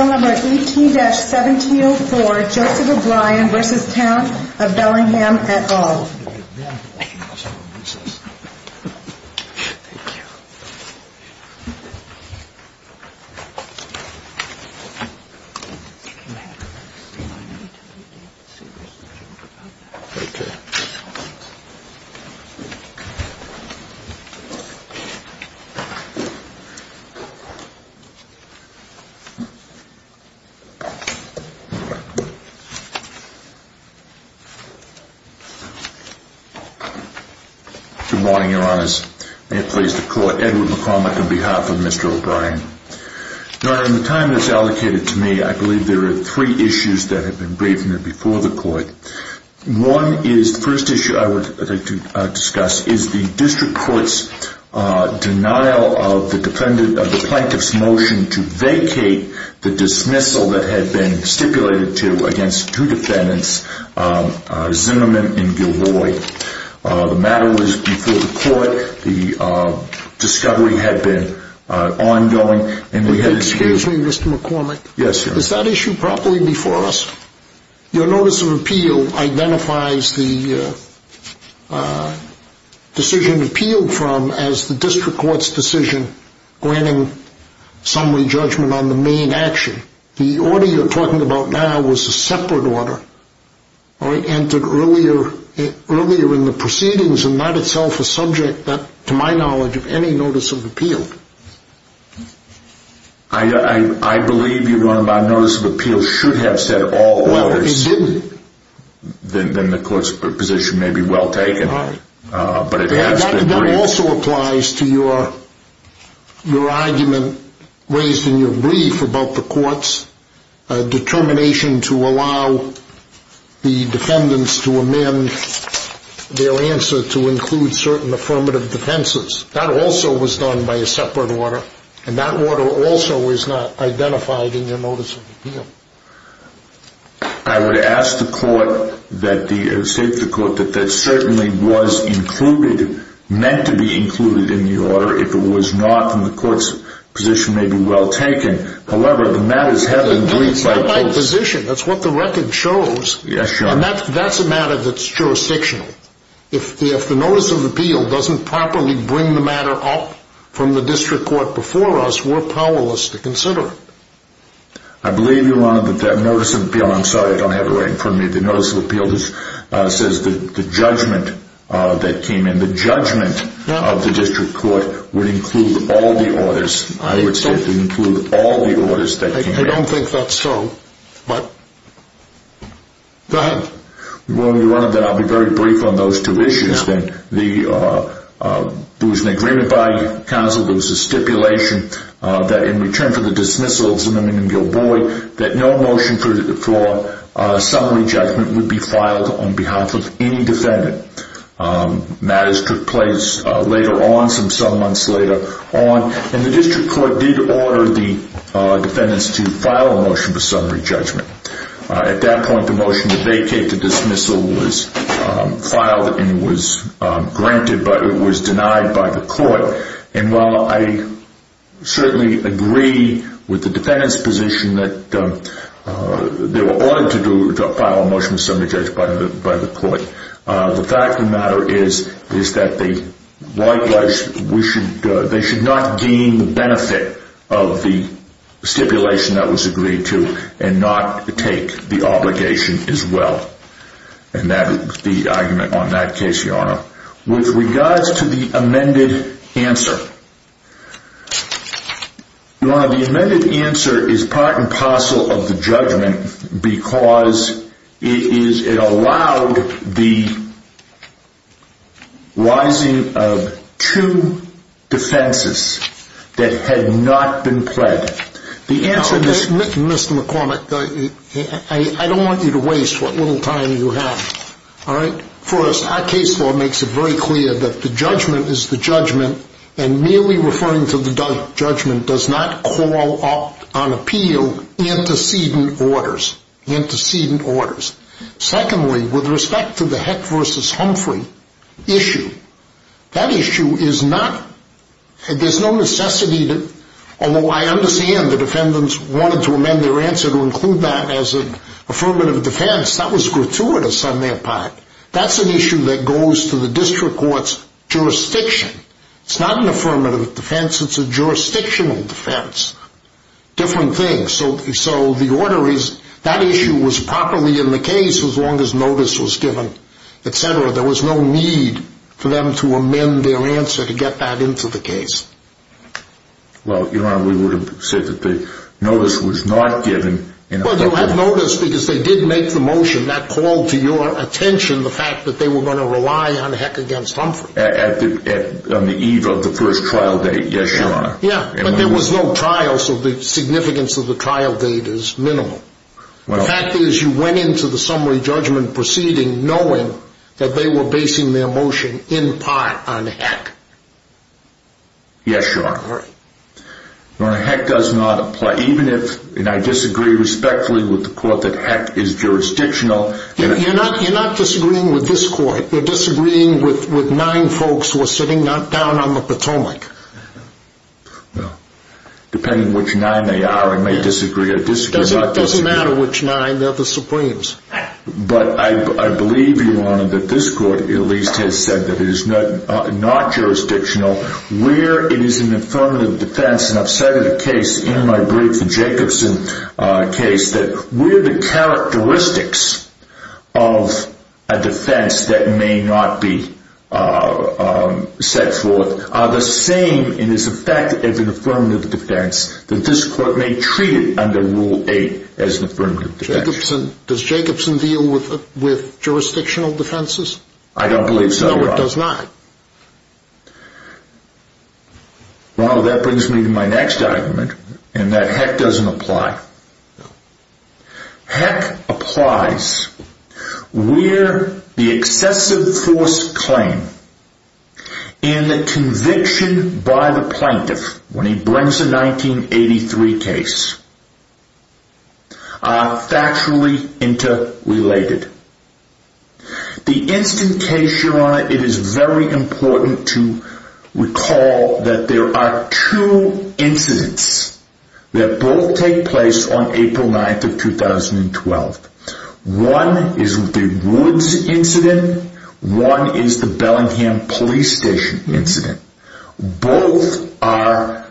No. 18-1704 Joseph O'Brien v. Town of Bellingham, et al. Good morning, your honors. May it please the court, Edward McCormick on behalf of Mr. O'Brien. Your honor, in the time that is allocated to me, I believe there are three issues that have been briefed to me before the court. One is the first issue I would like to discuss is the district court's denial of the plaintiff's motion to vacate the dismissal that had been stipulated to against two defendants, Zimmerman and Gilroy. The matter was before the court. The discovery had been ongoing. Excuse me, Mr. McCormick, is that issue properly before the court? Yes. Your notice of appeal identifies the decision appealed from as the district court's decision granting summary judgment on the main action. The order you're talking about now was a separate order. It entered earlier in the proceedings and that itself is subject to my knowledge of any notice of appeal. I believe your notice of appeal should have said all others. Well, it didn't. Then the court's position may be well taken. Right. But it has been briefed. That also applies to your argument raised in your brief about the court's determination to allow the defendants to amend their answer to include certain affirmative defenses. That also was done by a separate order and that order also is not identified in your notice of appeal. I would ask the court that the, say to the court, that that certainly was included, meant to be included in the order. If it was not, then the court's position may be well taken. However, the matter is heavily briefed by the court. That's not my position. That's what the record shows. Yes, Your Honor. And that's a matter that's jurisdictional. If the notice of appeal doesn't properly bring the matter up from the district court before us, we're powerless to consider it. I believe, Your Honor, that that notice of appeal, I'm sorry, I don't have it right in front of me, the notice of appeal says that the judgment that came in, the judgment of the district court would include all the orders. I would say it would include all the orders that came in. I don't think that's so. Go ahead. Your Honor, I'll be very brief on those two issues. There was an agreement by counsel, there was a stipulation that in return for the dismissal of Zimming and Gilboy, that no motion for summary judgment would be filed on behalf of any defendant. Matters took place later on, some months later on, and the district court did order the defendants to file a motion for summary judgment. At that point, the motion to vacate the dismissal was filed and it was granted, but it was denied by the court. And while I certainly agree with the defendants' position that they were ordered to do, to file a motion for summary judgment by the court, the fact of the matter is that the White House, they should not gain the benefit of the stipulation that was agreed to and not take the obligation as well. And that is the argument on that case, Your Honor. With regards to the amended answer, Your Honor, the amended answer is part and parcel of the judgment because it allowed the rising of two defenses that had not been pled. The answer to this... Your Honor, I don't want you to waste what little time you have. First, our case law makes it very clear that the judgment is the judgment, and merely referring to the judgment does not call on appeal antecedent orders, antecedent orders. Secondly, with respect to the Heck v. Humphrey issue, that issue is not... There's no necessity to... Although I understand the defendants wanted to amend their answer to include that as an affirmative defense, that was gratuitous on their part. That's an issue that goes to the district court's jurisdiction. It's not an affirmative defense, it's a jurisdictional defense. Different things. So the order is, that issue was properly in the case as long as notice was given, etc. There was no need for them to amend their answer to get that into the case. Well, Your Honor, we would have said that the notice was not given... Well, you had notice because they did make the motion that called to your attention the fact that they were going to rely on Heck v. Humphrey. On the eve of the first trial date, yes, Your Honor. Yeah, but there was no trial, so the significance of the trial date is minimal. The fact is you went into the summary judgment proceeding knowing that they were basing their motion in part on Heck. Yes, Your Honor. Heck does not apply. Even if, and I disagree respectfully with the court that Heck is jurisdictional... You're not disagreeing with this court. You're disagreeing with nine folks who are sitting down on the Potomac. Well, depending on which nine they are, I may disagree or disagree about disagreeing... It doesn't matter which nine. They're the Supremes. But I believe, Your Honor, that this court at least has said that it is not jurisdictional where it is an affirmative defense, and I've said in a case, in my brief, the Jacobson case, that where the characteristics of a defense that may not be set forth are the same in its effect as an affirmative defense, that this court may treat it under Rule 8 as an affirmative defense. Does Jacobson deal with jurisdictional defenses? I don't believe so, Your Honor. No, it does not. Well, that brings me to my next argument, and that Heck doesn't apply. Heck applies where the excessive force claim in the conviction by the plaintiff when he brings a 1983 case are factually interrelated. The instant case, Your Honor, it is very important to recall that there are two incidents that both take place on April 9th of 2012. One is the Woods incident. One is the Bellingham Police Station incident. Both are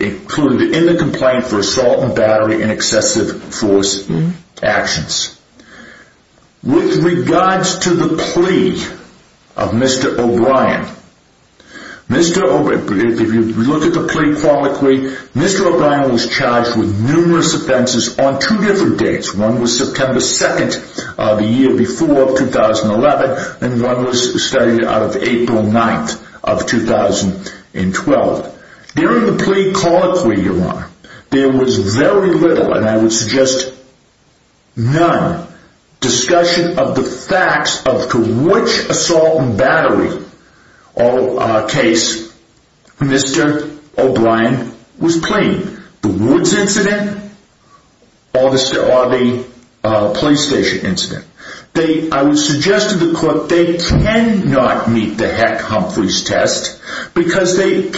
included in the complaint for assault and battery and excessive force actions. With regards to the plea of Mr. O'Brien, if you look at the plea chronically, Mr. O'Brien was charged with numerous offenses on two different dates. One was September 2nd, the year before 2011, and one was started out of April 9th of 2012. During the plea chronically, Your Honor, there was very little, and I would suggest none, discussion of the facts as to which assault and battery case Mr. O'Brien was pleading. The Woods incident or the police station incident. I would suggest to the court that they cannot meet the Heck-Humphreys test, because they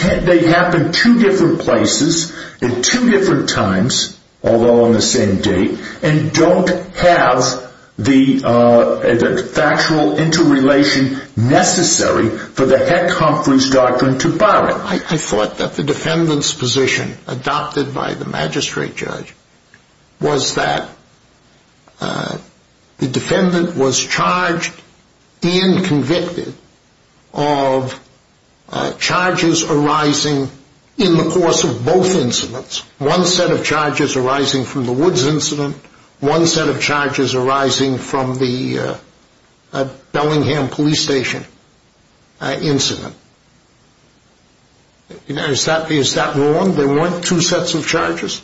happen two different places at two different times, although on the same date, and don't have the factual interrelation necessary for the Heck-Humphreys doctrine to borrow. Your Honor, I thought that the defendant's position, adopted by the magistrate judge, was that the defendant was charged and convicted of charges arising in the course of both incidents. One set of charges arising from the Woods incident. One set of charges arising from the Bellingham police station incident. Is that wrong? There weren't two sets of charges?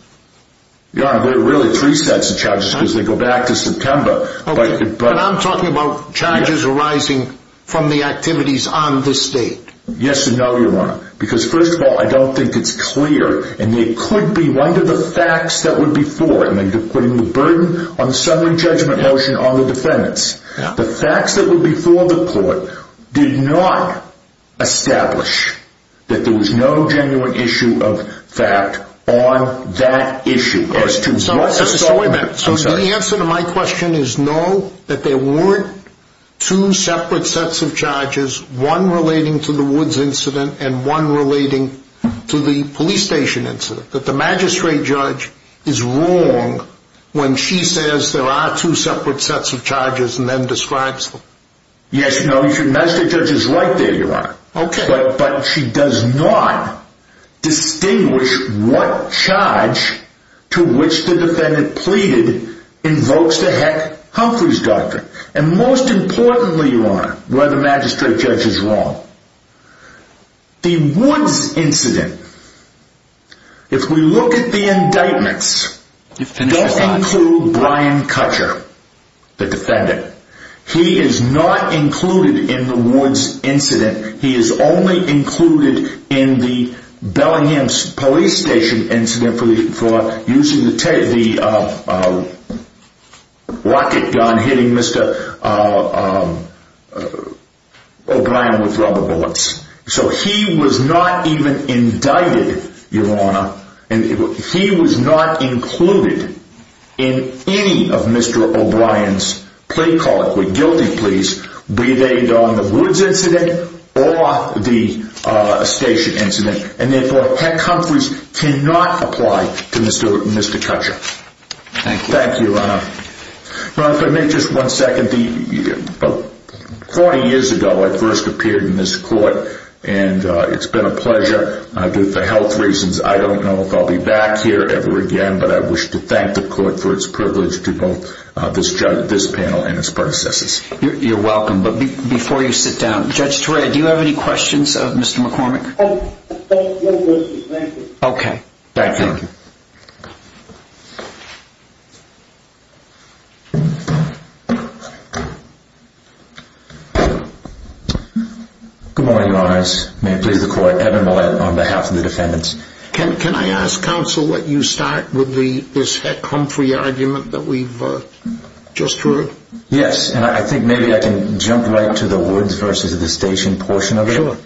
Your Honor, there were really three sets of charges, because they go back to September. But I'm talking about charges arising from the activities on this date. Yes and no, Your Honor, because first of all, I don't think it's clear, and it could be right of the facts that would be fore, and they're putting the burden on the summary judgment motion on the defendants. The facts that would be for the court did not establish that there was no genuine issue of fact on that issue. So the answer to my question is no, that there weren't two separate sets of charges, one relating to the Woods incident and one relating to the police station incident. That the magistrate judge is wrong when she says there are two separate sets of charges and then describes them. Yes and no, the magistrate judge is right there, Your Honor. But she does not distinguish what charge to which the defendant pleaded invokes the heck Humphrey's doctrine. And most importantly, Your Honor, where the magistrate judge is wrong. The Woods incident, if we look at the indictments, don't include Brian Cutcher, the defendant. He is not included in the Woods incident. He is only included in the Bellingham police station incident for using the rocket gun hitting Mr. O'Brien with rubber bullets. So he was not even indicted, Your Honor, and he was not included in any of Mr. O'Brien's plea calls, guilty pleas, be they on the Woods incident or the station incident. And therefore, heck Humphrey's cannot apply to Mr. Cutcher. Thank you, Your Honor. Your Honor, if I may just one second. Forty years ago, I first appeared in this court and it's been a pleasure. Due to health reasons, I don't know if I'll be back here ever again, but I wish to thank the court for its privilege to both this panel and its predecessors. You're welcome, but before you sit down, Judge Torea, do you have any questions of Mr. McCormick? No questions, thank you. Okay, thank you. Good morning, Your Honor. May it please the court. Evan Millett on behalf of the defendants. Can I ask, counsel, would you start with this heck Humphrey argument that we've just heard? Yes, and I think maybe I can jump right to the Woods versus the station portion of it. Sure.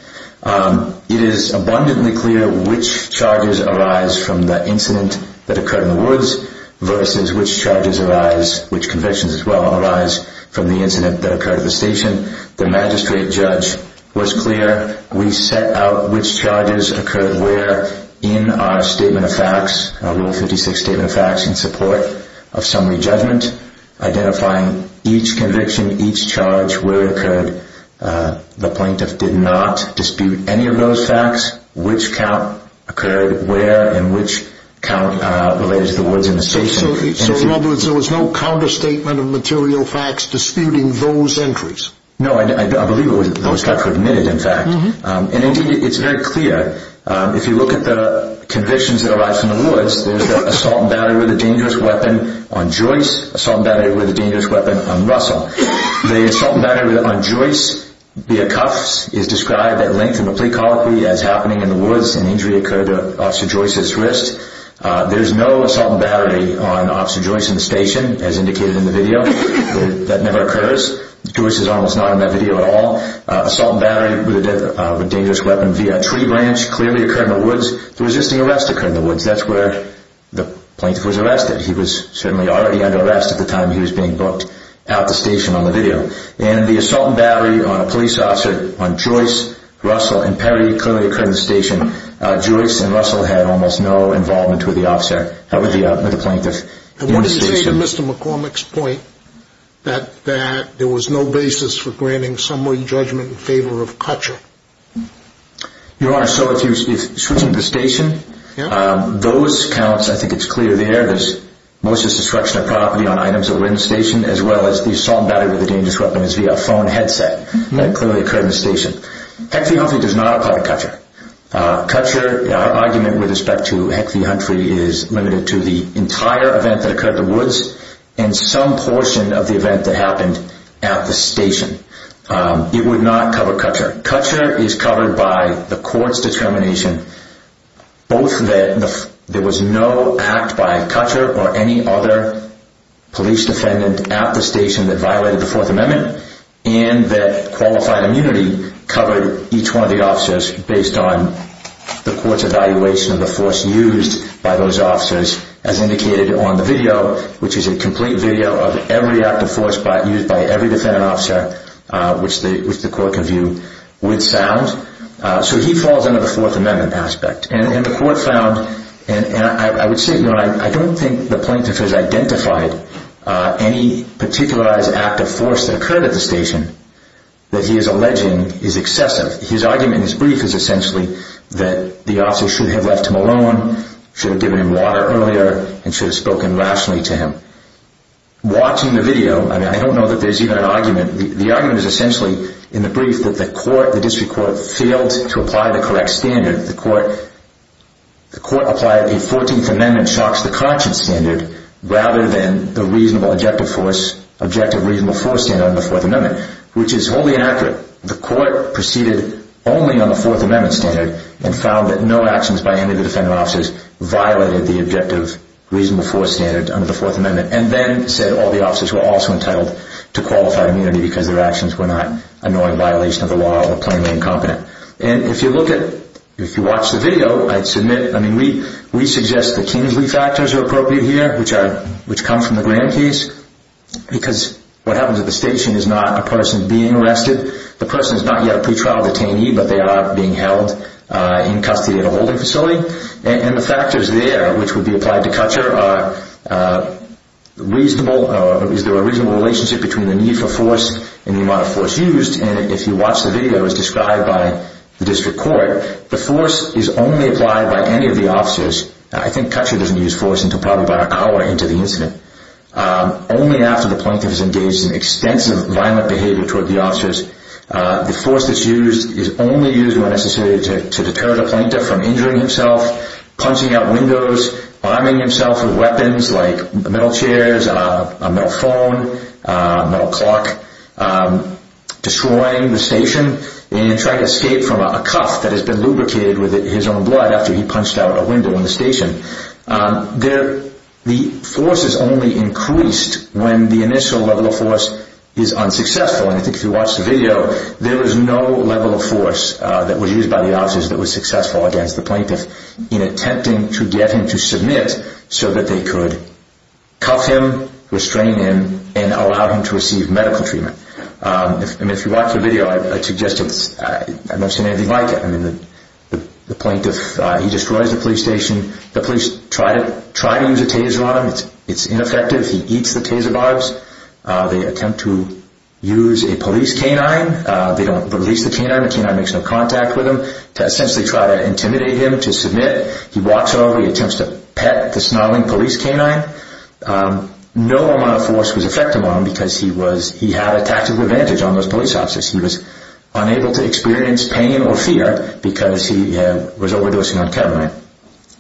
It is abundantly clear which charges arise from the incident that occurred in the Woods versus which charges arise, which convictions as well, arise from the incident that occurred at the station. The magistrate judge was clear. We set out which charges occurred where in our statement of facts, our Rule 56 statement of facts in support of summary judgment, identifying each conviction, each charge, where it occurred. The plaintiff did not dispute any of those facts, which count occurred where and which count related to the Woods and the station. So in other words, there was no counter-statement of material facts disputing those entries? No, I believe it was those facts were admitted, in fact. And indeed, it's very clear. If you look at the convictions that arise from the Woods, there's the assault and battery with a dangerous weapon on Joyce, assault and battery with a dangerous weapon on Russell. The assault and battery on Joyce via cuffs is described at length in the plea colloquy as happening in the Woods. An injury occurred to Officer Joyce's wrist. There's no assault and battery on Officer Joyce in the station, as indicated in the video. That never occurs. Joyce is almost not in that video at all. Assault and battery with a dangerous weapon via tree branch clearly occurred in the Woods. The resisting arrest occurred in the Woods. That's where the plaintiff was arrested. He was certainly already under arrest at the time he was being booked out the station on the video. And the assault and battery on a police officer on Joyce, Russell, and Perry clearly occurred in the station. Joyce and Russell had almost no involvement with the officer, with the plaintiff in the station. And what do you say to Mr. McCormick's point that there was no basis for granting summary judgment in favor of Cutcher? Your Honor, so if you switch into the station, those counts, I think it's clear there, most of the destruction of property on items that were in the station as well as the assault and battery with a dangerous weapon is via a phone headset. That clearly occurred in the station. Hecht v. Humphrey does not apply to Cutcher. Cutcher, our argument with respect to Hecht v. Humphrey is limited to the entire event that occurred in the Woods and some portion of the event that happened at the station. It would not cover Cutcher. Cutcher is covered by the court's determination both that there was no act by Cutcher or any other police defendant at the station that violated the Fourth Amendment and that qualified immunity covered each one of the officers based on the court's evaluation of the force used by those officers as indicated on the video, which is a complete video of every act of force used by every defendant officer, which the court can view with sound. So he falls under the Fourth Amendment aspect. And the court found, and I would say, I don't think the plaintiff has identified any particularized act of force that occurred at the station that he is alleging is excessive. His argument in his brief is essentially that the officer should have left him alone, should have given him water earlier, and should have spoken rationally to him. Watching the video, I don't know that there's even an argument. The argument is essentially in the brief that the court, the district court, failed to apply the correct standard. The court applied a 14th Amendment shocks-the-conscious standard rather than the objective reasonable force standard under the Fourth Amendment, which is wholly inaccurate. The court proceeded only on the Fourth Amendment standard and found that no actions by any of the defendant officers violated the objective reasonable force standard under the Fourth Amendment, and then said all the officers were also entitled to qualified immunity because their actions were not a knowing violation of the law or plainly incompetent. If you watch the video, we suggest the Kingsley factors are appropriate here, which come from the Graham case, because what happens at the station is not a person being arrested. The person is not yet a pretrial detainee, but they are being held in custody at a holding facility. And the factors there, which would be applied to Kutcher, is there a reasonable relationship between the need for force and the amount of force used, and if you watch the video, as described by the district court, the force is only applied by any of the officers. I think Kutcher doesn't use force until probably about an hour into the incident. Only after the plaintiff is engaged in extensive violent behavior toward the officers, the force that's used is only used when necessary to deter the plaintiff from injuring himself, punching out windows, arming himself with weapons like metal chairs, a metal phone, a metal clock, destroying the station, and trying to escape from a cuff that has been lubricated with his own blood after he punched out a window in the station. The force is only increased when the initial level of force is unsuccessful, and I think if you watch the video, there is no level of force that was used by the officers that was successful against the plaintiff in attempting to get him to submit so that they could cuff him, restrain him, and allow him to receive medical treatment. If you watch the video, I don't see anything like it. The plaintiff, he destroys the police station. The police try to use a taser on him. It's ineffective. He eats the taser barbs. They attempt to use a police canine. They don't release the canine. The canine makes no contact with him. They essentially try to intimidate him to submit. He walks over. He attempts to pet the snarling police canine. No amount of force was effective on him because he had a tactical advantage on those police officers. He was unable to experience pain or fear because he was overdosing on Ketamine.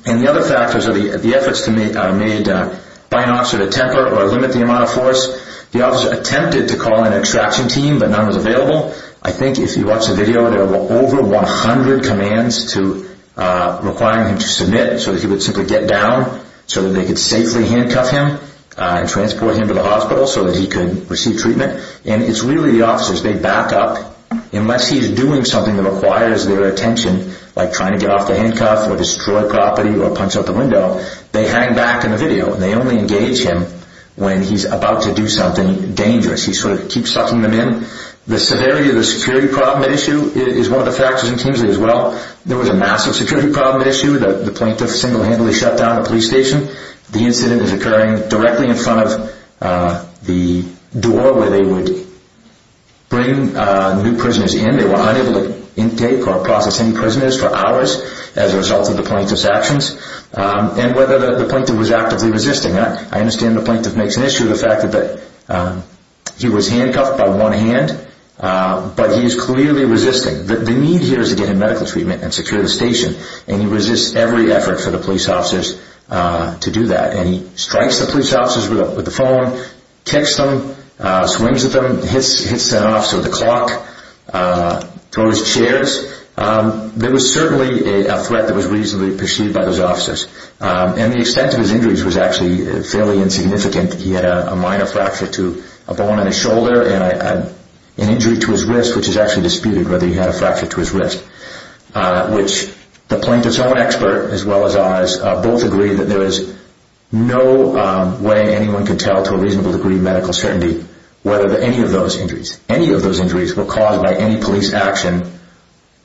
The other factors are the efforts made by an officer to temper or limit the amount of force. The officer attempted to call an extraction team but none was available. I think if you watch the video, there were over 100 commands requiring him to submit so that he would simply get down so that they could safely handcuff him and transport him to the hospital so that he could receive treatment. It's really the officers. They back up unless he's doing something that requires their attention like trying to get off the handcuff or destroy property or punch out the window. They hang back in the video and they only engage him when he's about to do something dangerous. He keeps sucking them in. The severity of the security problem is one of the factors in Kingsley as well. There was a massive security problem at issue. The plaintiff single-handedly shut down the police station. The incident is occurring directly in front of the door where they would bring new prisoners in. They were unable to take or process any prisoners for hours as a result of the plaintiff's actions and whether the plaintiff was actively resisting. I understand the plaintiff makes an issue of the fact that he was handcuffed by one hand but he is clearly resisting. The need here is to get him medical treatment and secure the station and he resists every effort for the police officers to do that. He strikes the police officers with the phone, kicks them, swings at them, hits an officer with a clock, throws chairs. There was certainly a threat that was reasonably perceived by those officers. The extent of his injuries was actually fairly insignificant. He had a minor fracture to a bone in his shoulder and an injury to his wrist which is actually disputed whether he had a fracture to his wrist. The plaintiff's own expert as well as ours both agree that there is no way anyone can tell to a reasonable degree medical certainty whether any of those injuries were caused by any police action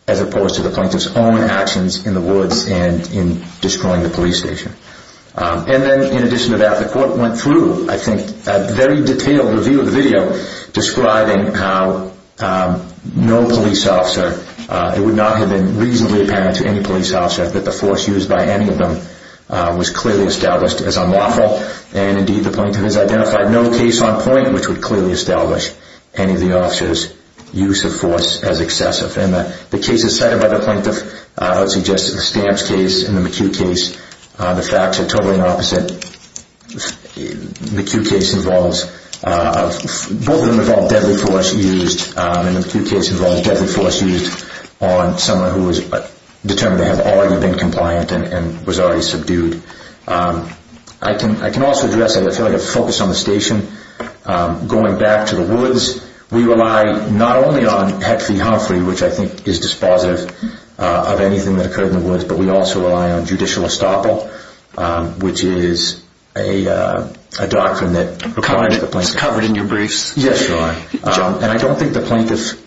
as opposed to the plaintiff's own actions in the woods and in destroying the police station. In addition to that, the court went through a very detailed review of the video describing how no police officer it would not have been reasonably apparent to any police officer that the force used by any of them was clearly established as unlawful and indeed the plaintiff has identified no case on point which would clearly establish any of the officer's use of force as excessive. The cases cited by the plaintiff suggest the Stamps case and the McHugh case the facts are totally opposite. The McHugh case involves both of them involved deadly force used and the McHugh case involved deadly force used on someone who was determined to have already been compliant and was already subdued. I can also address a focus on the station going back to the woods we rely not only on Hetfield Humphrey which I think is dispositive of anything that occurred in the woods but we also rely on judicial estoppel which is a doctrine that requires the plaintiff and I don't think the plaintiff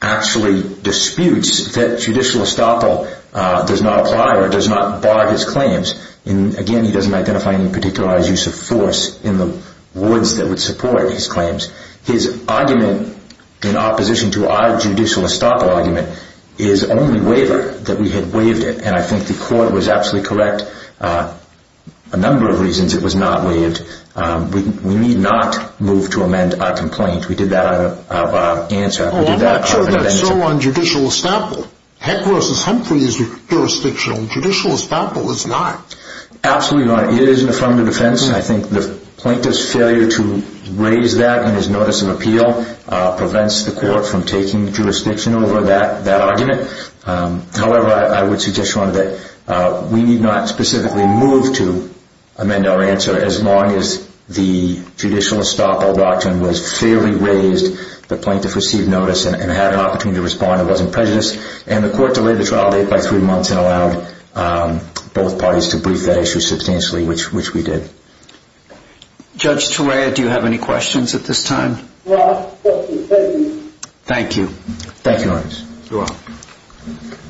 actually disputes that judicial estoppel does not apply or does not bar his claims and again he doesn't identify any particular use of force in the woods that would support his claims his argument in opposition to our judicial estoppel argument is only waiver that we had waived it and I think the court was absolutely correct a number of reasons it was not waived we need not move to amend our complaint we did that out of our answer I'm not sure that's so on judicial estoppel Hetfield versus Humphrey is jurisdictional judicial estoppel is not absolutely your honor it is an affirmative defense I think the plaintiff's failure to raise that in his notice of appeal prevents the court from taking jurisdiction over that argument however I would suggest your honor that we need not specifically move to amend our answer as long as the judicial estoppel doctrine was fairly raised the plaintiff received notice and had an opportunity to respond and wasn't prejudiced and the court delayed the trial date by three months and allowed both parties to brief that issue substantially which we did Judge Torea do you have any questions at this time? Thank you Thank you your honor